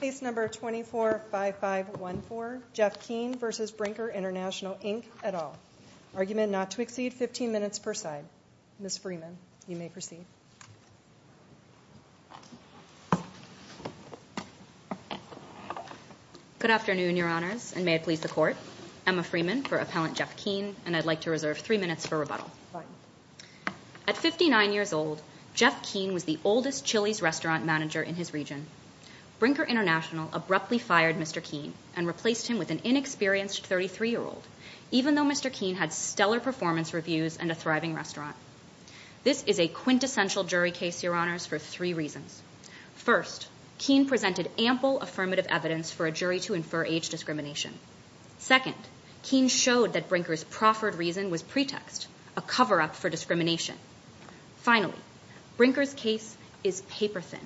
Case No. 245514, Jeff Kean v. Brinker International Inc. et al., Argument not to exceed 15 minutes per side. Ms. Freeman, you may proceed. Good afternoon, Your Honors, and may it please the Court. Emma Freeman for Appellant Jeff Kean, and I'd like to reserve three minutes for rebuttal. At 59 years old, Jeff Kean was the oldest Chili's restaurant manager in his region. Brinker International abruptly fired Mr. Kean and replaced him with an inexperienced 33-year-old, even though Mr. Kean had stellar performance reviews and a thriving restaurant. This is a quintessential jury case, Your Honors, for three reasons. First, Kean presented ample affirmative evidence for a jury to infer age discrimination. Second, Kean showed that Brinker's proffered reason was pretext, a cover-up for discrimination. Finally, Brinker's case is paper-thin.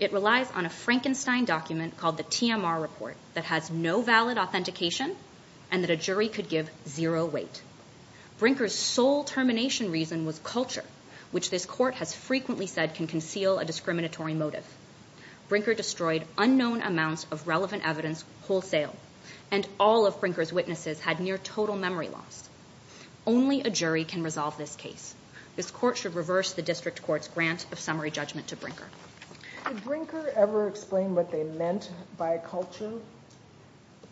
It relies on a Frankenstein document called the TMR Report that has no valid authentication and that a jury could give zero weight. Brinker's sole termination reason was culture, which this Court has frequently said can conceal a discriminatory motive. Brinker destroyed unknown amounts of relevant evidence wholesale, and all of Brinker's witnesses had near-total memory loss. Only a jury can resolve this case. This Court should reverse the District Judgement to Brinker. Did Brinker ever explain what they meant by culture?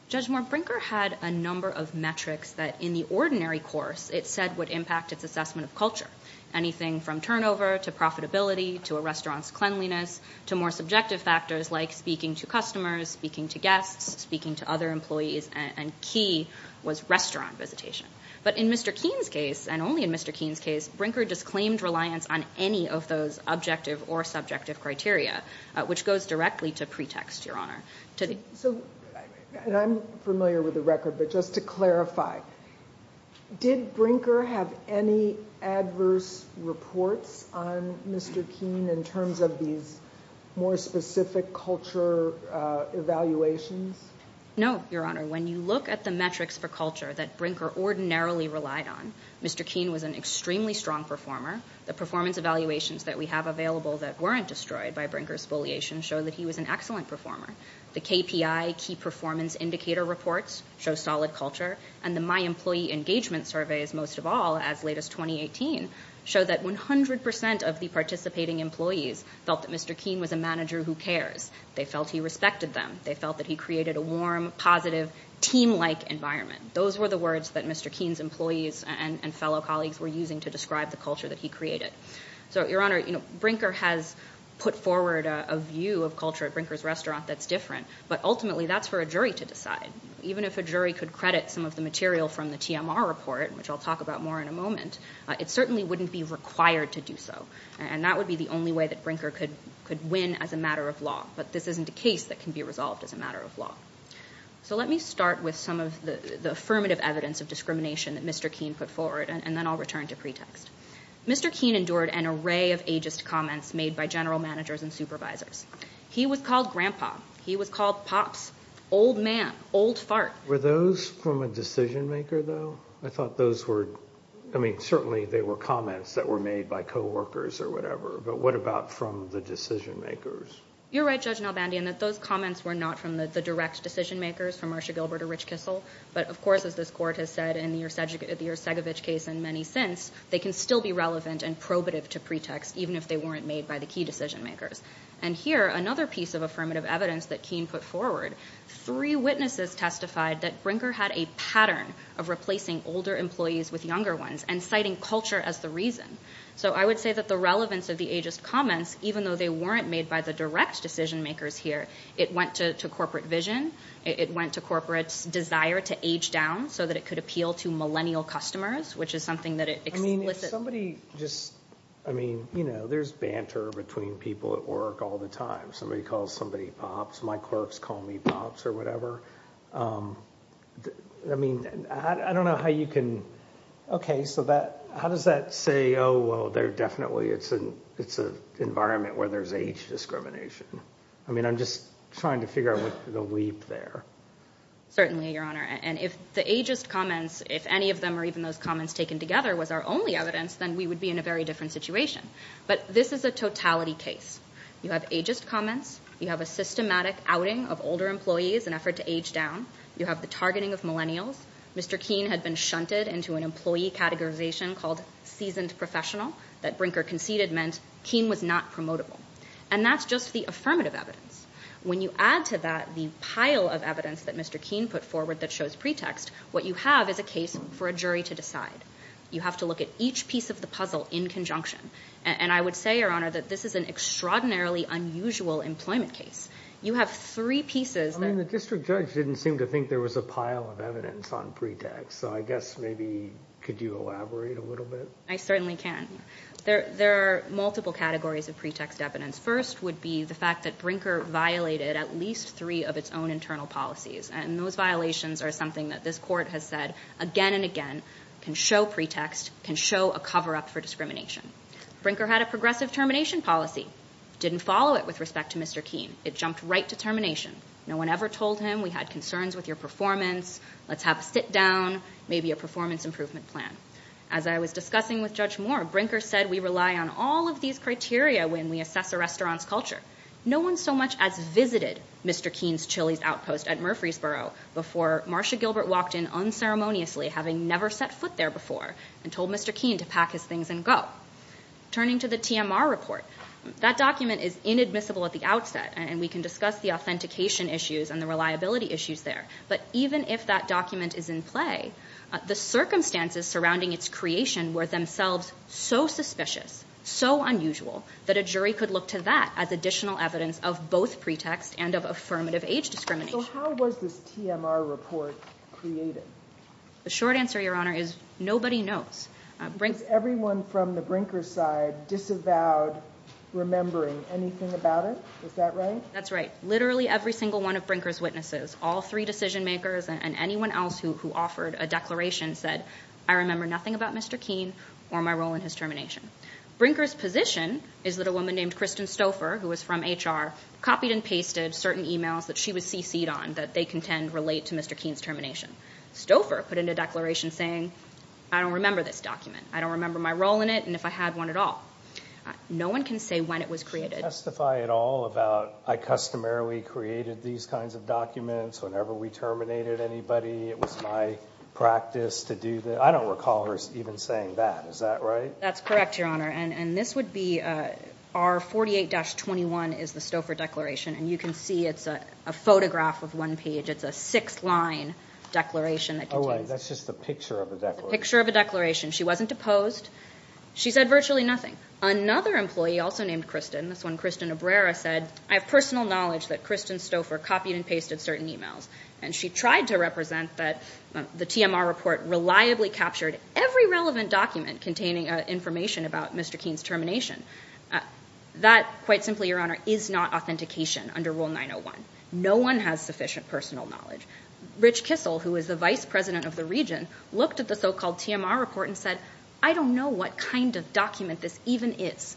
Judge Moore, Brinker had a number of metrics that, in the ordinary course, it said would impact its assessment of culture. Anything from turnover to profitability to a restaurant's cleanliness to more subjective factors like speaking to customers, speaking to guests, speaking to other employees, and key was restaurant visitation. But in Mr. Kean's case, and only in Mr. Kean's case, Brinker disclaimed reliance on any of those objective or subjective criteria, which goes directly to pretext, Your Honor. So, and I'm familiar with the record, but just to clarify, did Brinker have any adverse reports on Mr. Kean in terms of these more specific culture evaluations? No, Your Honor. When you look at the metrics for culture that Brinker ordinarily relied on, Mr. Kean was an extremely strong performer. The performance evaluations that we have available that weren't destroyed by Brinker's bulliation show that he was an excellent performer. The KPI, Key Performance Indicator reports, show solid culture. And the My Employee Engagement surveys, most of all, as late as 2018, show that 100% of the participating employees felt that Mr. Kean was a manager who cares. They felt he respected them. They felt that he created a warm, positive, team-like environment. Those were the words that Mr. Kean's employees and fellow colleagues were using to describe the culture that he created. So, Your Honor, you know, Brinker has put forward a view of culture at Brinker's Restaurant that's different. But ultimately, that's for a jury to decide. Even if a jury could credit some of the material from the TMR report, which I'll talk about more in a moment, it certainly wouldn't be required to do so. And that would be the only way that Brinker could win as a matter of law. But this isn't a case that can be resolved as a matter of law. So let me start with some of the affirmative evidence of discrimination that Mr. Kean put forward, and then I'll return to pretext. Mr. Kean endured an array of ageist comments made by general managers and supervisors. He was called Grandpa. He was called Pops. Old Man. Old Fart. Were those from a decision-maker, though? I thought those were, I mean, certainly they were comments that were made by co-workers or whatever. But what about from the decision-makers? You're right, Judge Nalbandi, in that those comments were not from the direct decision-makers, from Marcia Gilbert or Rich Kissel. But of course, as this Court has said in the Yersegovich case and many since, they can still be relevant and probative to pretext, even if they weren't made by the key decision-makers. And here, another piece of affirmative evidence that Kean put forward, three witnesses testified that Brinker had a pattern of replacing older employees with younger ones, and citing culture as the reason. So I would say that the relevance of the ageist comments, even though they weren't made by the direct decision-makers here, it went to corporate vision, it went to corporate's desire to age down so that it could appeal to millennial customers, which is something that it explicitly... I mean, if somebody just, I mean, you know, there's banter between people at work all the time. Somebody calls somebody Pops, my clerks call me Pops or whatever. I mean, I don't know how you can... Okay, so that, how does that say, oh, well, they're definitely, it's an environment where there's age discrimination. I mean, I'm just trying to figure out which to leave there. Certainly, Your Honor. And if the ageist comments, if any of them or even those comments taken together was our only evidence, then we would be in a very different situation. But this is a totality case. You have ageist comments, you have a systematic outing of older employees in an effort to age down, you have the targeting of millennials. Mr. Keene had been shunted into an employee categorization called seasoned professional that Brinker conceded meant Keene was not promotable. And that's just the affirmative evidence. When you add to that the pile of evidence that Mr. Keene put forward that shows pretext, what you have is a case for a jury to decide. You have to look at each piece of the puzzle in conjunction. And I would say, Your Honor, that this is an extraordinarily unusual employment case. You have three pieces I mean, the district judge didn't seem to think there was a pile of evidence on pretext. So I guess maybe could you elaborate a little bit? I certainly can. There are multiple categories of pretext evidence. First would be the fact that Brinker violated at least three of its own internal policies. And those violations are something that this Court has said again and again can show pretext, can show a cover up for discrimination. Brinker had a progressive termination policy, didn't follow it with respect to Mr. Keene. It jumped right to termination. No one ever told him we had concerns with your performance, let's have a sit down, maybe a performance improvement plan. As I was discussing with Judge Moore, Brinker said we rely on all of these criteria when we assess a restaurant's culture. No one so much as visited Mr. Keene's Chili's Outpost at Murfreesboro before Marsha Gilbert walked in unceremoniously, having never set foot there before, and told Mr. Keene to pack his things and go. Turning to the TMR report, that document is inadmissible at the outset, and we can discuss the authentication issues and the reliability issues there. But even if that document is in play, the circumstances surrounding its creation were themselves so suspicious, so unusual, that a jury could look to that as additional evidence of both pretext and of affirmative age discrimination. So how was this TMR report created? The short answer, Your Honor, is nobody knows. Was everyone from the Brinker's side disavowed remembering anything about it? Is that right? That's right. Literally every single one of Brinker's witnesses, all three decision makers and anyone else who offered a declaration said, I remember nothing about Mr. Keene or my role in his termination. Brinker's position is that a woman named Kristen Stouffer, who was from HR, copied and pasted certain emails that she was CC'd on that they contend relate to Mr. Keene's termination. Stouffer put in a declaration saying, I don't remember this document. I don't remember my role in it, and if I had one at all. No one can say when it was created. Can you testify at all about, I customarily created these kinds of documents whenever we terminated anybody. It was my practice to do that. I don't recall her even saying that. Is that right? That's correct, Your Honor. And this would be R48-21 is the Stouffer declaration, and you can see it's a photograph of one page. It's a six-line declaration that contains Oh, right. That's just a picture of a declaration. A picture of a declaration. She wasn't deposed. She said virtually nothing. Another employee also named Kristen, this one Kristen Obrera, said, I have personal knowledge that Kristen Stouffer copied and pasted certain emails. And she tried to represent that the TMR report reliably captured every relevant document containing information about Mr. Keene's determination. That, quite simply, Your Honor, is not authentication under Rule 901. No one has sufficient personal knowledge. Rich Kissel, who is the vice president of the region, looked at the so-called TMR report and said, I don't know what kind of document this even is.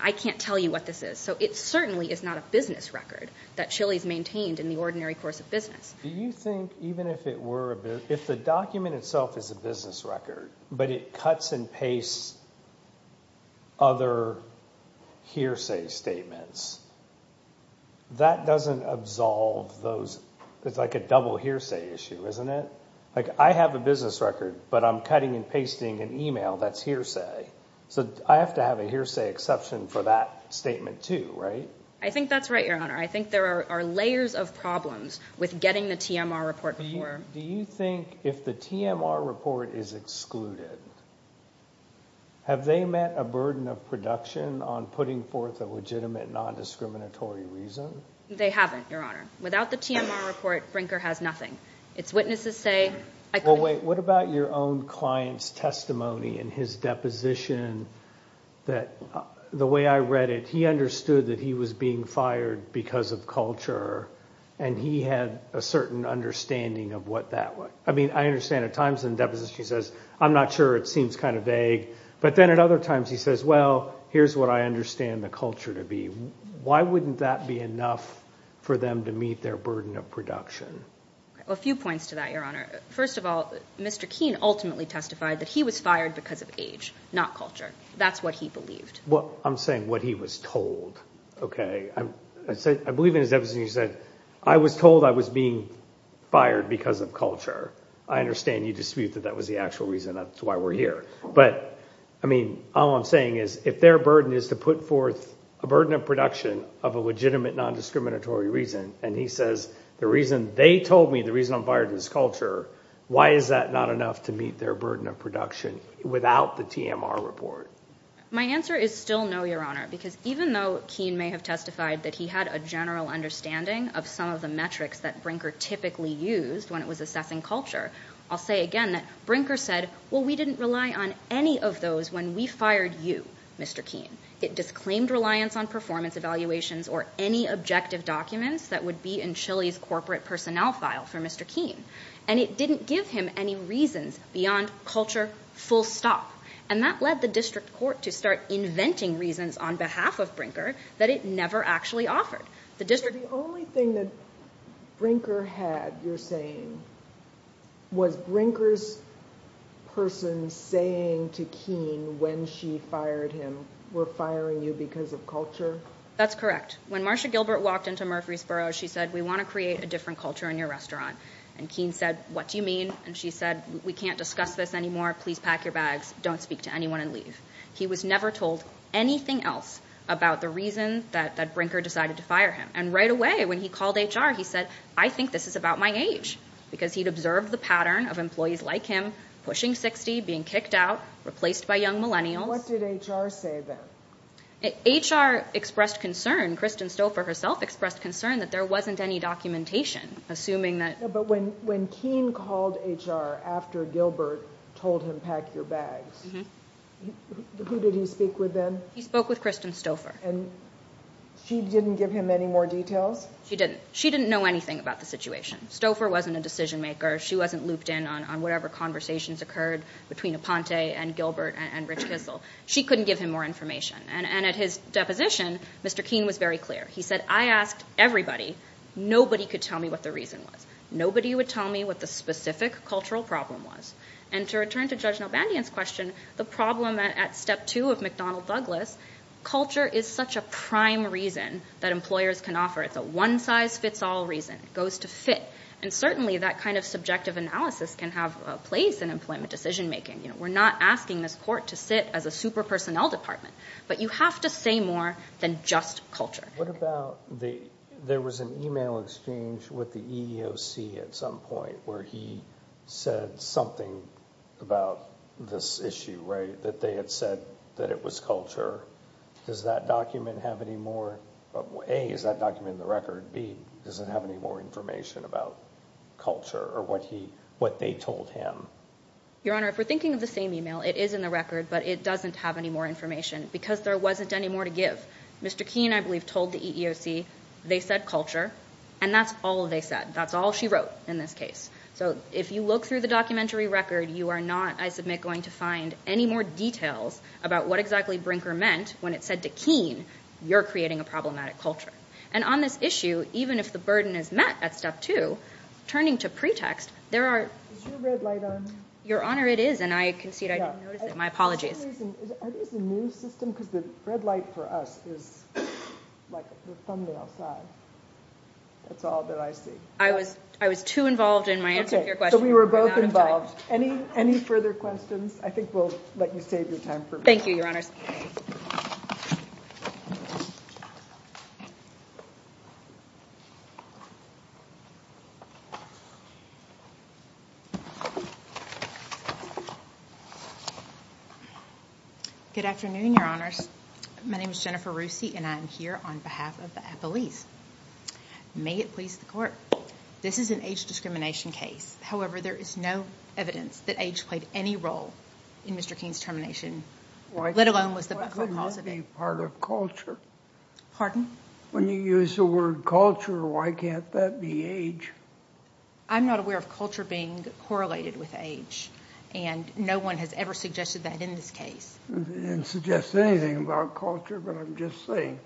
I can't tell you what this is. So it certainly is not a business record that Chili's maintained in the ordinary course of business. Do you think, even if it were a business, if the document itself is a business record, but it cuts and pastes other hearsay statements, that doesn't absolve those, it's like a double hearsay issue, isn't it? Like, I have a business record, but I'm cutting and pasting an email that's hearsay. So I have to have a hearsay exception for that statement too, right? I think that's right, Your Honor. I think there are layers of problems with getting the TMR report before. Do you think, if the TMR report is excluded, have they met a burden of production on putting forth a legitimate non-discriminatory reason? They haven't, Your Honor. Without the TMR report, Brinker has nothing. Its witnesses say, I couldn't... Well, wait, what about your own client's testimony in his deposition that, the way I read it, he understood that he was being fired because of culture, and he had a certain understanding of what that was. I mean, I understand at times in depositions he says, I'm not sure, it seems kind of vague, but then at other times he says, well, here's what I understand the culture to be. Why wouldn't that be enough for them to meet their burden of production? A few points to that, Your Honor. First of all, Mr. Keene ultimately testified that he was fired because of age, not culture. That's what he believed. I'm saying what he was told, okay? I believe in his deposition he said, I was told I was being fired because of culture. I understand you dispute that that was the actual reason that's why we're here. But, I mean, all I'm saying is, if their burden is to put forth a burden of production of a legitimate non-discriminatory reason, and he says, the reason they told me the reason I'm fired is culture, why is that not enough to meet their burden of production without the TMR report? My answer is still no, Your Honor, because even though Keene may have testified that he had a general understanding of some of the metrics that Brinker typically used when it was assessing culture, I'll say again that Brinker said, well, we didn't rely on any of those when we fired you, Mr. Keene. It disclaimed reliance on performance evaluations or any objective documents that would be in Chile's corporate personnel file for Mr. Keene. And it didn't give him any reasons beyond culture, full stop. And that led the district court to start inventing reasons on behalf of Brinker that it never actually offered. The district... But the only thing that Brinker had, you're saying, was Brinker's person saying to Keene when she fired him, we're firing you because of culture? That's correct. When Marsha Gilbert walked into Murfreesboro, she said, we want to create a different culture in your restaurant. And Keene said, what do you mean? And she said, we can't discuss this anymore. Please pack your bags. Don't speak to anyone and leave. He was never told anything else about the reason that Brinker decided to fire him. And right away when he called HR, he said, I think this is about my age. Because he'd observed the pattern of employees like him pushing 60, being kicked out, replaced by young millennials. What did HR say then? HR expressed concern, Kristen Stouffer herself expressed concern that there wasn't any documentation assuming that... Keene called HR after Gilbert told him, pack your bags. Who did he speak with then? He spoke with Kristen Stouffer. And she didn't give him any more details? She didn't. She didn't know anything about the situation. Stouffer wasn't a decision maker. She wasn't looped in on whatever conversations occurred between Aponte and Gilbert and Rich Kissel. She couldn't give him more information. And at his deposition, Mr. Keene was very clear. He said, I asked everybody. Nobody could tell me what the reason was. Nobody would tell me what the specific cultural problem was. And to return to Judge Nobandian's question, the problem at step two of McDonald-Douglas, culture is such a prime reason that employers can offer. It's a one size fits all reason. It goes to fit. And certainly that kind of subjective analysis can have a place in employment decision making. We're not asking this court to sit as a super personnel department. But you have to say more than just culture. What about there was an email exchange with the EEOC at some point where he said something about this issue, right? That they had said that it was culture. Does that document have any more, A, is that document in the record? B, does it have any more information about culture or what they told him? Your Honor, if we're thinking of the same email, it is in the record. But it doesn't have any more information because there wasn't any more to give. Mr. Keene, I believe, told the EEOC they said culture. And that's all they said. That's all she wrote in this case. So if you look through the documentary record, you are not, I submit, going to find any more details about what exactly Brinker meant when it said to Keene, you're creating a problematic culture. And on this issue, even if the burden is met at step two, turning to pretext, there are Is your red light on? Your Honor, it is. And I concede I didn't notice it. My apologies. Are these a new system? Because the red light for us is like the thumbnail side. That's all that I see. I was too involved in my answer to your question. So we were both involved. Any further questions? I think we'll let you save your time for me. Thank you, Your Honor. Good afternoon, Your Honors. My name is Jennifer Roosey, and I'm here on behalf of the appellees. May it please the Court. This is an age discrimination case. However, there is no evidence that age played any role in Mr. Keene's termination, let alone was the but-for clause of it. Why couldn't it be part of culture? Pardon? When you use the word culture, why can't that be age? I'm not aware of culture being correlated with age, and no one has ever suggested that in this case. I didn't suggest anything about culture, but I'm just saying,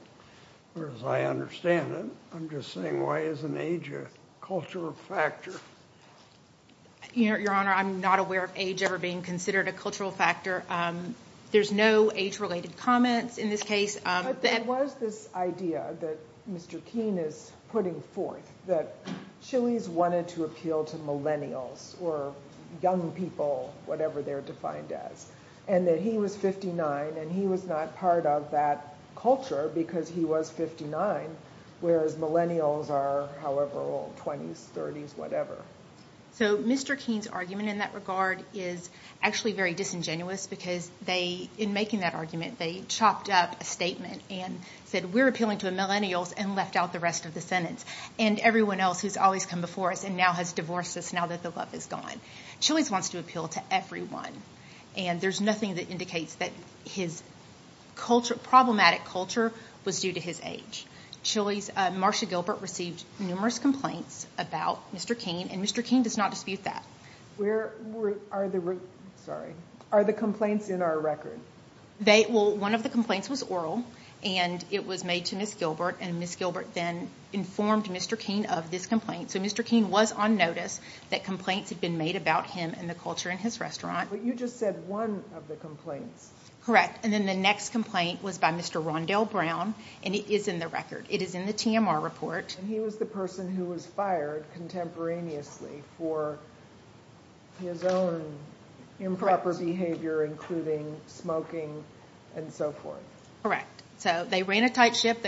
or as I understand it, I'm just saying why isn't age a cultural factor? Your Honor, I'm not aware of age ever being considered a cultural factor. There's no age-related comments in this case. But there was this idea that Mr. Keene is putting forth, that Chili's wanted to appeal to millennials, or young people, whatever they're defined as, and that he was 59, and he was not part of that culture because he was 59, whereas millennials are, however old, 20s, 30s, whatever. So Mr. Keene's argument in that regard is actually very disingenuous, because in making that argument, they chopped up a statement and said, we're appealing to millennials, and left out the rest of the sentence, and everyone else who's always come before us and now has divorced us now that the love is gone. Chili's wants to appeal to everyone, and there's nothing that indicates that his problematic culture was due to his age. Chili's, Marsha Gilbert received numerous complaints about Mr. Keene, and Mr. Keene does not dispute that. Are the complaints in our record? One of the complaints was oral, and it was made to Ms. Gilbert, and Ms. Gilbert then informed Mr. Keene of this complaint. So Mr. Keene was on notice that complaints had been made about him and the culture in his restaurant. But you just said one of the complaints. Correct. And then the next complaint was by Mr. Rondell Brown, and it is in the record. It is in the TMR report. And he was the person who was fired contemporaneously for his own improper behavior, including smoking and so forth. Correct. So they ran a tight ship.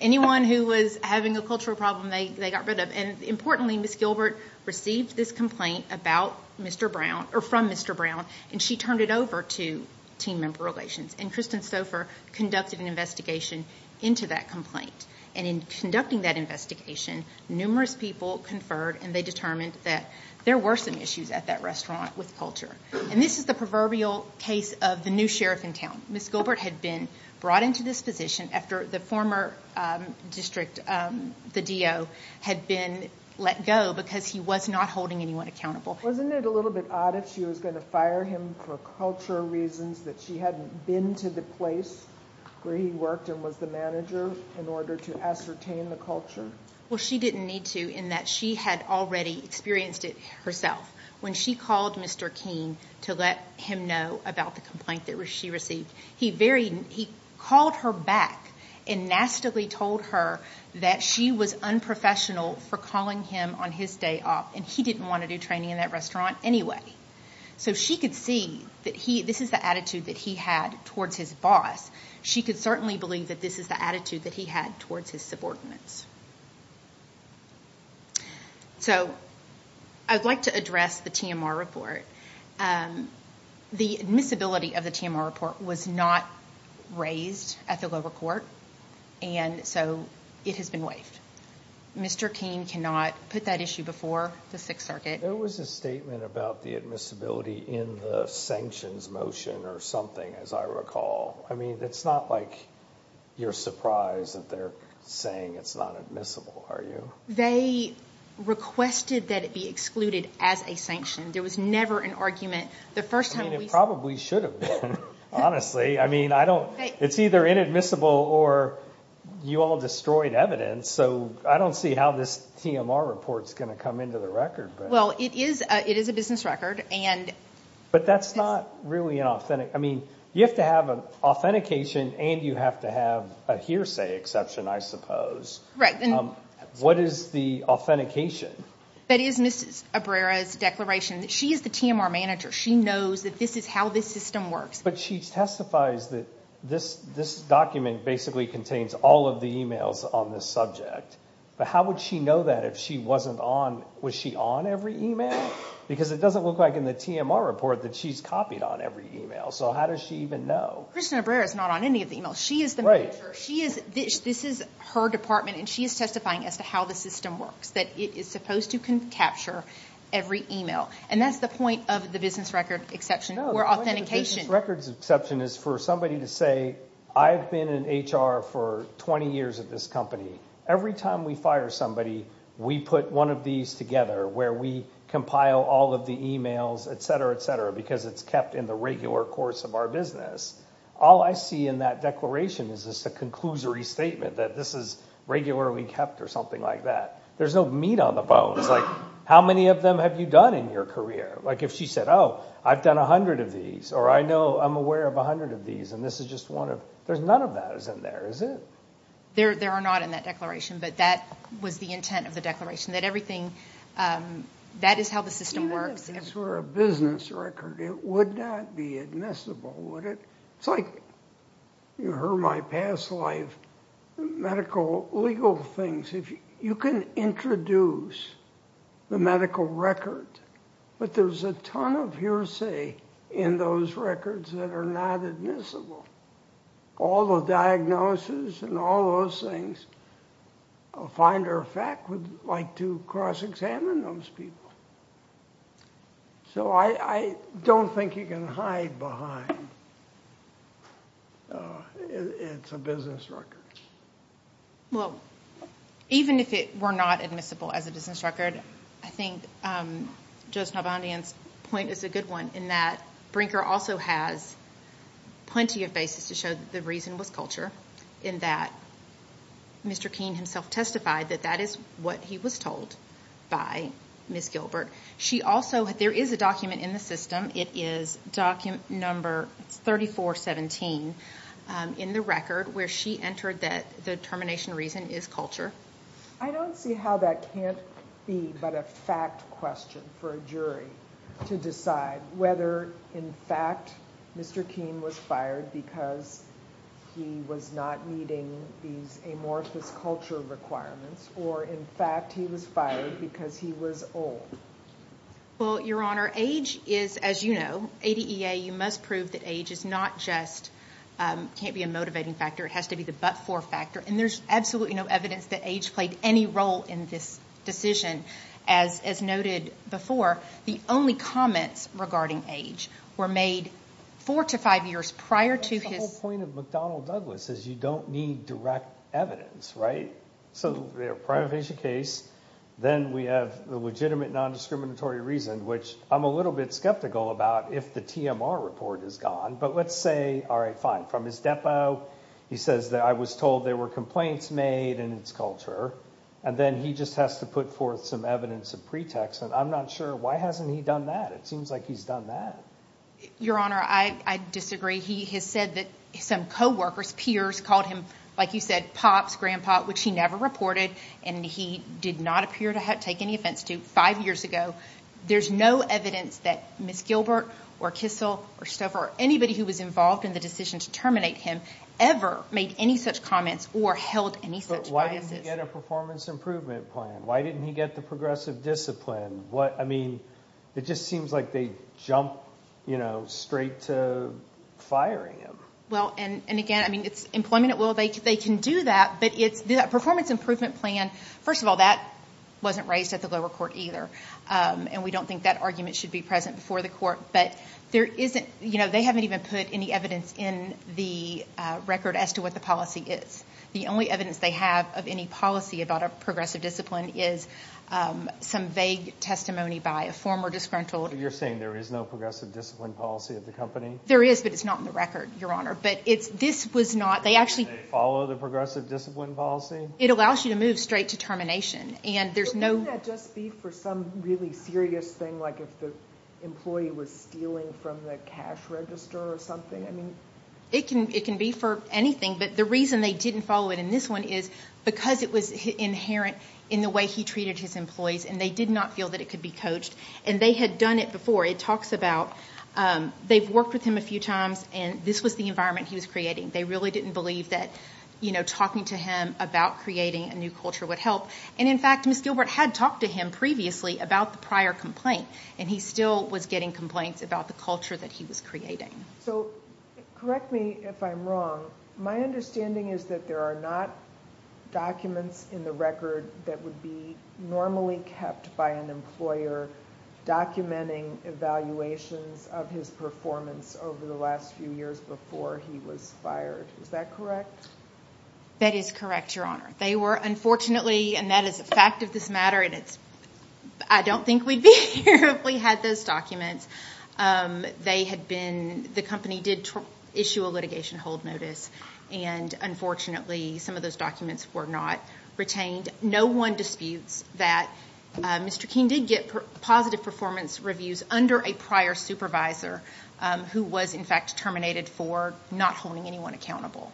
Anyone who was having a cultural problem, they got rid of. And importantly, Ms. Gilbert received this complaint about Mr. Brown, or from Mr. Brown, and she turned it over to Team Member Relations, and Kristen Sofer conducted an investigation into that complaint. And in conducting that investigation, numerous people conferred, and they determined that there were some issues at that restaurant with culture. And this is the proverbial case of the new sheriff in town. Ms. Gilbert had been brought into this position after the former district, the DO, had been let go because he was not holding anyone accountable. Wasn't it a little bit odd if she was going to fire him for culture reasons, that she hadn't been to the place where he worked and was the manager in order to ascertain the culture? Well, she didn't need to, in that she had already experienced it herself. When she called Mr. Keene to let him know about the complaint that she received, he called her back and nastily told her that she was unprofessional for calling him on his day off, and he didn't want to do training in that restaurant anyway. So she could see that this is the attitude that he had towards his boss. She could certainly believe that this is the attitude that he had towards his subordinates. So I'd like to address the TMR report. The admissibility of the TMR report was not raised at the lower court, and so it has been waived. Mr. Keene cannot put that issue before the Sixth Circuit. There was a statement about the admissibility in the sanctions motion or something, as I recall. I mean, it's not like you're surprised that they're saying it's not admissible, are you? They requested that it be excluded as a sanction. There was never an argument. I mean, it probably should have been, honestly. I mean, it's either inadmissible or you all destroyed evidence, so I don't see how this Well, it is a business record. But that's not really authentic. I mean, you have to have an authentication, and you have to have a hearsay exception, I suppose. What is the authentication? That is Mrs. Abrera's declaration. She is the TMR manager. She knows that this is how this system works. But she testifies that this document basically contains all of the e-mails on this subject. But how would she know that if she wasn't on? Was she on every e-mail? Because it doesn't look like in the TMR report that she's copied on every e-mail. So how does she even know? Kristin Abrera is not on any of the e-mails. She is the manager. This is her department, and she is testifying as to how the system works, that it is supposed to capture every e-mail. And that's the point of the business record exception or authentication. No, the point of the business record exception is for somebody to say, I've been in HR for 20 years at this company. Every time we fire somebody, we put one of these together, where we compile all of the e-mails, et cetera, et cetera, because it's kept in the regular course of our business. All I see in that declaration is just a conclusory statement that this is regularly kept or something like that. There's no meat on the bones. Like how many of them have you done in your career? Like if she said, oh, I've done 100 of these, or I know I'm aware of 100 of these, and this is just one of them, there's none of that in there, is there? There are not in that declaration, but that was the intent of the declaration, that everything, that is how the system works. Even if this were a business record, it would not be admissible, would it? It's like you heard my past life, medical, legal things. You can introduce the medical record, but there's a ton of hearsay in those records that are not admissible. All the diagnosis and all those things, a finder of fact would like to cross-examine those people. So I don't think you can hide behind it's a business record. Even if it were not admissible as a business record, I think Judge Nalbandian's point is a good one, in that Brinker also has plenty of basis to show that the reason was culture, in that Mr. Keene himself testified that that is what he was told by Ms. Gilbert. There is a document in the system. It is document number 3417 in the record where she entered that the termination reason is culture. I don't see how that can't be but a fact question for a jury to decide whether in fact Mr. Keene was fired because he was not meeting these amorphous culture requirements, or in fact he was fired because he was old. Well, Your Honor, age is, as you know, ADEA, you must prove that age is not just, can't be a motivating factor, it has to be the but-for factor. And there's absolutely no evidence that age played any role in this decision. As noted before, the only comments regarding age were made four to five years prior to his- The whole point of McDonnell Douglas is you don't need direct evidence, right? So, the privatization case, then we have the legitimate non-discriminatory reason, which I'm a little bit skeptical about if the TMR report is gone, but let's say, all right, fine. From his depo, he says that, I was told there were complaints made and it's culture, and then he just has to put forth some evidence of pretext, and I'm not sure, why hasn't he done that? It seems like he's done that. Your Honor, I disagree. He has said that some co-workers, peers, called him, like you said, pops, grandpa, which he never reported, and he did not appear to take any offense to five years ago. There's no evidence that Ms. Gilbert or Kissel or Stover or anybody who was involved in the decision to terminate him ever made any such comments or held any such biases. But why didn't he get a performance improvement plan? Why didn't he get the progressive discipline? I mean, it just seems like they jumped straight to firing him. Well, and again, I mean, it's employment at will. They can do that, but the performance improvement plan, first of all, that wasn't raised at the lower court either, and we don't think that argument should be present before the court, but there isn't, you know, they haven't even put any evidence in the record as to what the policy is. The only evidence they have of any policy about a progressive discipline is some vague testimony by a former disgruntled. You're saying there is no progressive discipline policy at the company? There is, but it's not in the record, Your Honor, but this was not, they actually Did they follow the progressive discipline policy? It allows you to move straight to termination, and there's no Wouldn't that just be for some really serious thing, like if the employee was stealing from the cash register or something? It can be for anything, but the reason they didn't follow it in this one is because it was inherent in the way he treated his employees, and they did not feel that it could be coached, and they had done it before. It talks about they've worked with him a few times, and this was the environment he was creating. They really didn't believe that, you know, talking to him about creating a new culture would help. And in fact, Ms. Gilbert had talked to him previously about the prior complaint, and he still was getting complaints about the culture that he was creating. So correct me if I'm wrong. My understanding is that there are not documents in the record that would be normally kept by an employer documenting evaluations of his performance over the last few years before he was fired. Is that correct? That is correct, Your Honor. They were unfortunately, and that is a fact of this matter, and I don't think we'd be here if we had those documents. The company did issue a litigation hold notice, and unfortunately some of those documents were not retained. No one disputes that Mr. King did get positive performance reviews under a prior supervisor who was, in fact, terminated for not holding anyone accountable.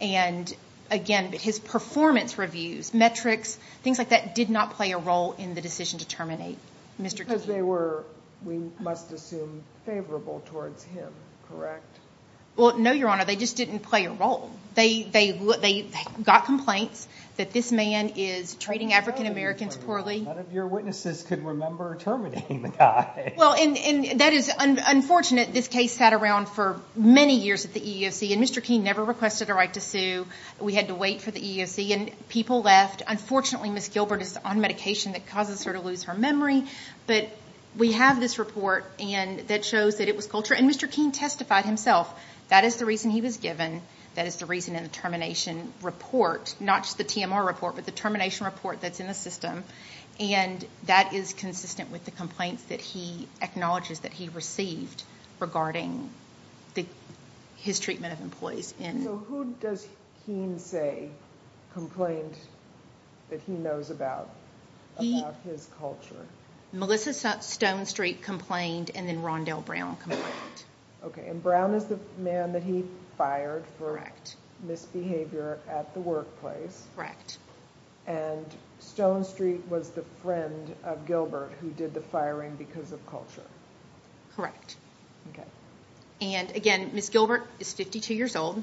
And again, his performance reviews, metrics, things like that, did not play a role in the decision to terminate Mr. King. Because they were, we must assume, favorable towards him, correct? Well, no, Your Honor. They just didn't play a role. They got complaints that this man is trading African Americans poorly. None of your witnesses could remember terminating the guy. Well, and that is unfortunate. This case sat around for many years at the EEOC, and Mr. King never requested a right to sue. We had to wait for the EEOC, and people left. Unfortunately, Ms. Gilbert is on medication that causes her to lose her memory. But we have this report that shows that it was culture, and Mr. King testified himself. That is the reason he was given. That is the reason in the termination report, not just the TMR report, but the termination report that's in the system. And that is consistent with the complaints that he acknowledges that he received regarding his treatment of employees. So who does King say complained that he knows about his culture? Melissa Stone Street complained, and then Rondell Brown complained. Okay, and Brown is the man that he fired for misbehavior at the workplace. Correct. And Stone Street was the friend of Gilbert who did the firing because of culture. Correct. And, again, Ms. Gilbert is 52 years old.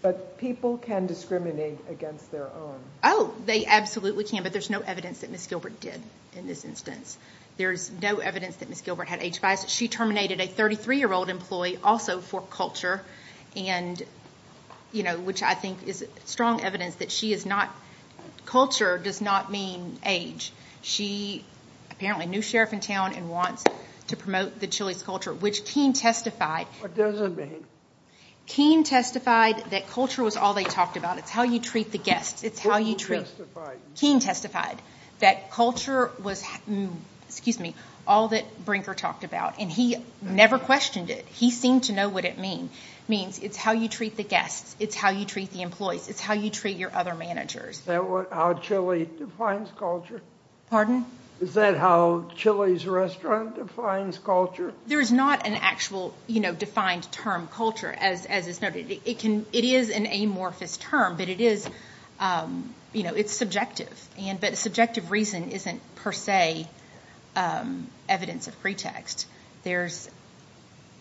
But people can discriminate against their own. Oh, they absolutely can, but there's no evidence that Ms. Gilbert did in this instance. There's no evidence that Ms. Gilbert had age bias. She terminated a 33-year-old employee also for culture, which I think is strong evidence that culture does not mean age. She apparently knew Sheriff in town and wants to promote the Chili's culture, which King testified. What does it mean? King testified that culture was all they talked about. It's how you treat the guests. Who testified? King testified that culture was all that Brinker talked about, and he never questioned it. He seemed to know what it means. It's how you treat the guests. It's how you treat the employees. It's how you treat your other managers. Is that how Chili defines culture? Pardon? Is that how Chili's restaurant defines culture? There is not an actual defined term, culture, as is noted. It is an amorphous term, but it's subjective. But subjective reason isn't per se evidence of pretext. There's,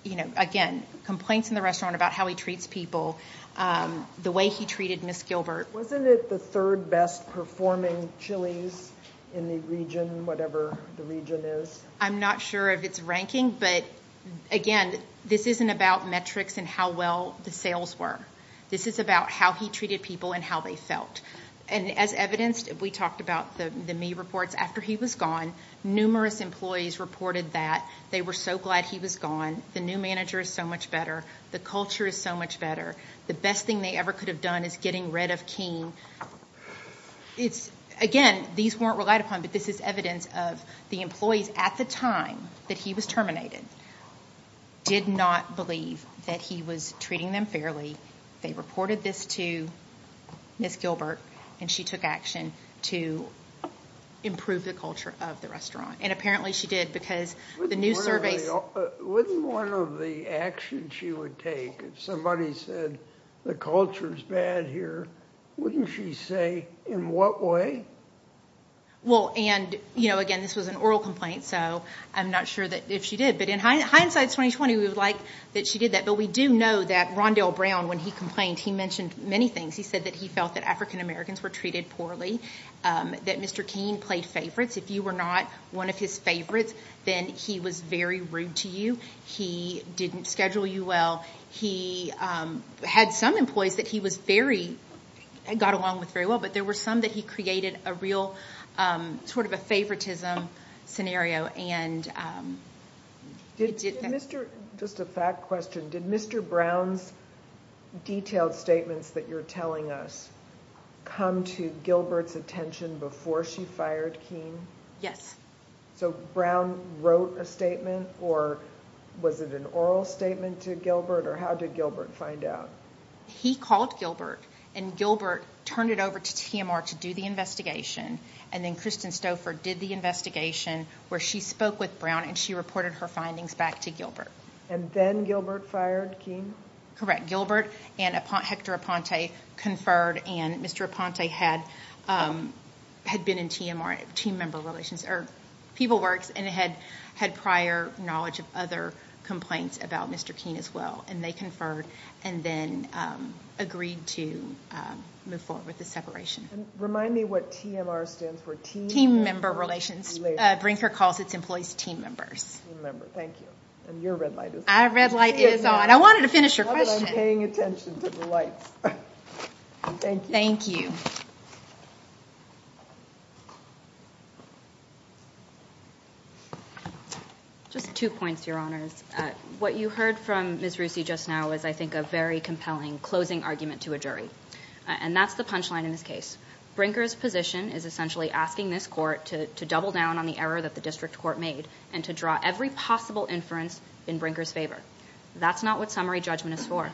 again, complaints in the restaurant about how he treats people, the way he treated Ms. Gilbert. Wasn't it the third best-performing Chili's in the region, whatever the region is? I'm not sure if it's ranking, but, again, this isn't about metrics and how well the sales were. This is about how he treated people and how they felt. And as evidenced, we talked about the Me reports. After he was gone, numerous employees reported that they were so glad he was gone, the new manager is so much better, the culture is so much better, the best thing they ever could have done is getting rid of Keene. Again, these weren't relied upon, but this is evidence of the employees at the time that he was terminated did not believe that he was treating them fairly. They reported this to Ms. Gilbert, and she took action to improve the culture of the restaurant. And apparently she did because the new surveys. Wouldn't one of the actions she would take, if somebody said the culture is bad here, wouldn't she say in what way? Well, and, you know, again, this was an oral complaint, so I'm not sure if she did. But in hindsight, it's 2020. We would like that she did that. But we do know that Rondell Brown, when he complained, he mentioned many things. He said that he felt that African Americans were treated poorly, that Mr. Keene played favorites. If you were not one of his favorites, then he was very rude to you. He didn't schedule you well. He had some employees that he got along with very well, but there were some that he created a real sort of a favoritism scenario. Just a fact question. Did Mr. Brown's detailed statements that you're telling us come to Gilbert's attention before she fired Keene? So Brown wrote a statement, or was it an oral statement to Gilbert, or how did Gilbert find out? He called Gilbert, and Gilbert turned it over to TMR to do the investigation, and then Kristen Stouffer did the investigation where she spoke with Brown and she reported her findings back to Gilbert. And then Gilbert fired Keene? Correct. Gilbert and Hector Aponte conferred, and Mr. Aponte had been in TMR, Team Member Relations, or People Works, and had prior knowledge of other complaints about Mr. Keene as well, and they conferred and then agreed to move forward with the separation. Remind me what TMR stands for, Team Member Relations? Team Member Relations. Brinker calls its employees team members. Team members, thank you. And your red light is on. Our red light is on. I wanted to finish your question. I love that I'm paying attention to the lights. Thank you. Thank you. Just two points, Your Honors. What you heard from Ms. Rusi just now is, I think, a very compelling closing argument to a jury, and that's the punchline in this case. Brinker's position is essentially asking this court to double down on the error that the district court made and to draw every possible inference in Brinker's favor. That's not what summary judgment is for.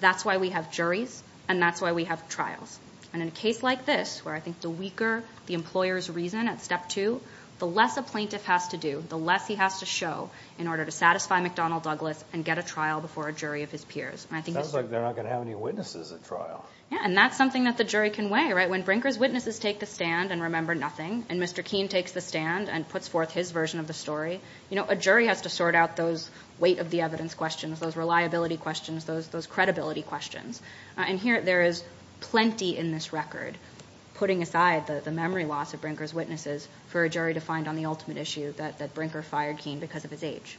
That's why we have juries, and that's why we have trials. And in a case like this, where I think the weaker the employer's reason at Step 2, the less a plaintiff has to do, the less he has to show, in order to satisfy McDonnell Douglas and get a trial before a jury of his peers. Sounds like they're not going to have any witnesses at trial. Yeah, and that's something that the jury can weigh, right? When Brinker's witnesses take the stand and remember nothing, and Mr. Keene takes the stand and puts forth his version of the story, a jury has to sort out those weight-of-the-evidence questions, those reliability questions, those credibility questions. And here, there is plenty in this record, putting aside the memory loss of Brinker's witnesses for a jury to find on the ultimate issue that Brinker fired Keene because of his age.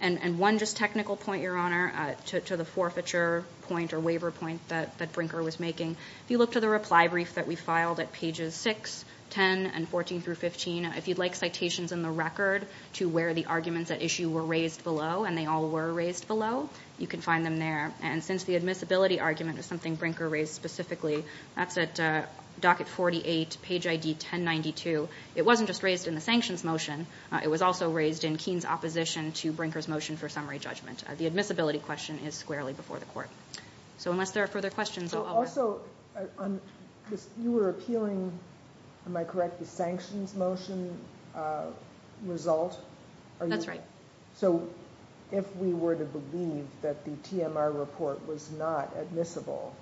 And one just technical point, Your Honor, to the forfeiture point or waiver point that Brinker was making, if you look to the reply brief that we filed at pages 6, 10, and 14 through 15, if you'd like citations in the record to where the arguments at issue were raised below, and they all were raised below, you can find them there. And since the admissibility argument is something Brinker raised specifically, that's at docket 48, page ID 1092. It wasn't just raised in the sanctions motion. It was also raised in Keene's opposition to Brinker's motion for summary judgment. The admissibility question is squarely before the court. So unless there are further questions, I'll let you know. Also, you were appealing, am I correct, the sanctions motion result? That's right. So if we were to believe that the TMR report was not admissible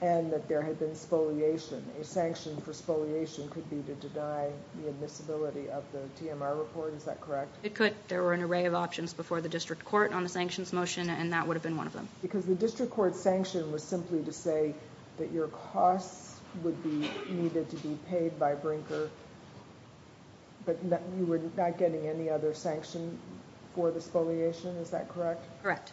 and that there had been spoliation, a sanction for spoliation could be to deny the admissibility of the TMR report. Is that correct? It could. There were an array of options before the district court on the sanctions motion, and that would have been one of them. Because the district court's sanction was simply to say that your costs would be needed to be paid by Brinker, but you were not getting any other sanction for the spoliation. Is that correct?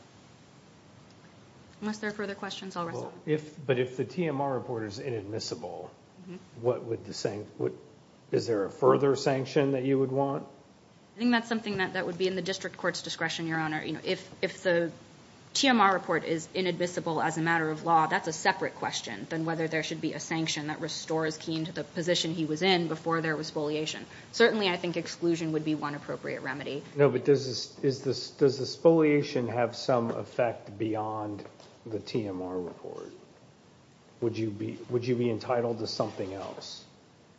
Unless there are further questions, I'll restate. But if the TMR report is inadmissible, is there a further sanction that you would want? I think that's something that would be in the district court's discretion, Your Honor. If the TMR report is inadmissible as a matter of law, that's a separate question than whether there should be a sanction that restores Keene to the position he was in before there was spoliation. Certainly I think exclusion would be one appropriate remedy. No, but does the spoliation have some effect beyond the TMR report? Would you be entitled to something else?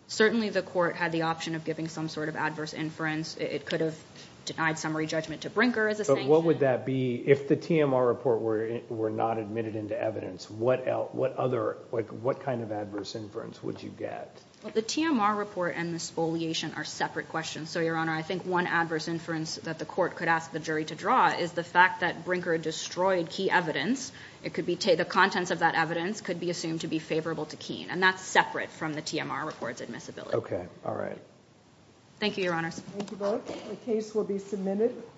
Certainly the court had the option of giving some sort of adverse inference. It could have denied summary judgment to Brinker as a sanction. But what would that be? If the TMR report were not admitted into evidence, what kind of adverse inference would you get? The TMR report and the spoliation are separate questions. So, Your Honor, I think one adverse inference that the court could ask the jury to draw is the fact that Brinker destroyed key evidence. The contents of that evidence could be assumed to be favorable to Keene, and that's separate from the TMR report's admissibility. Okay. All right. Thank you, Your Honors. Thank you both. The case will be submitted.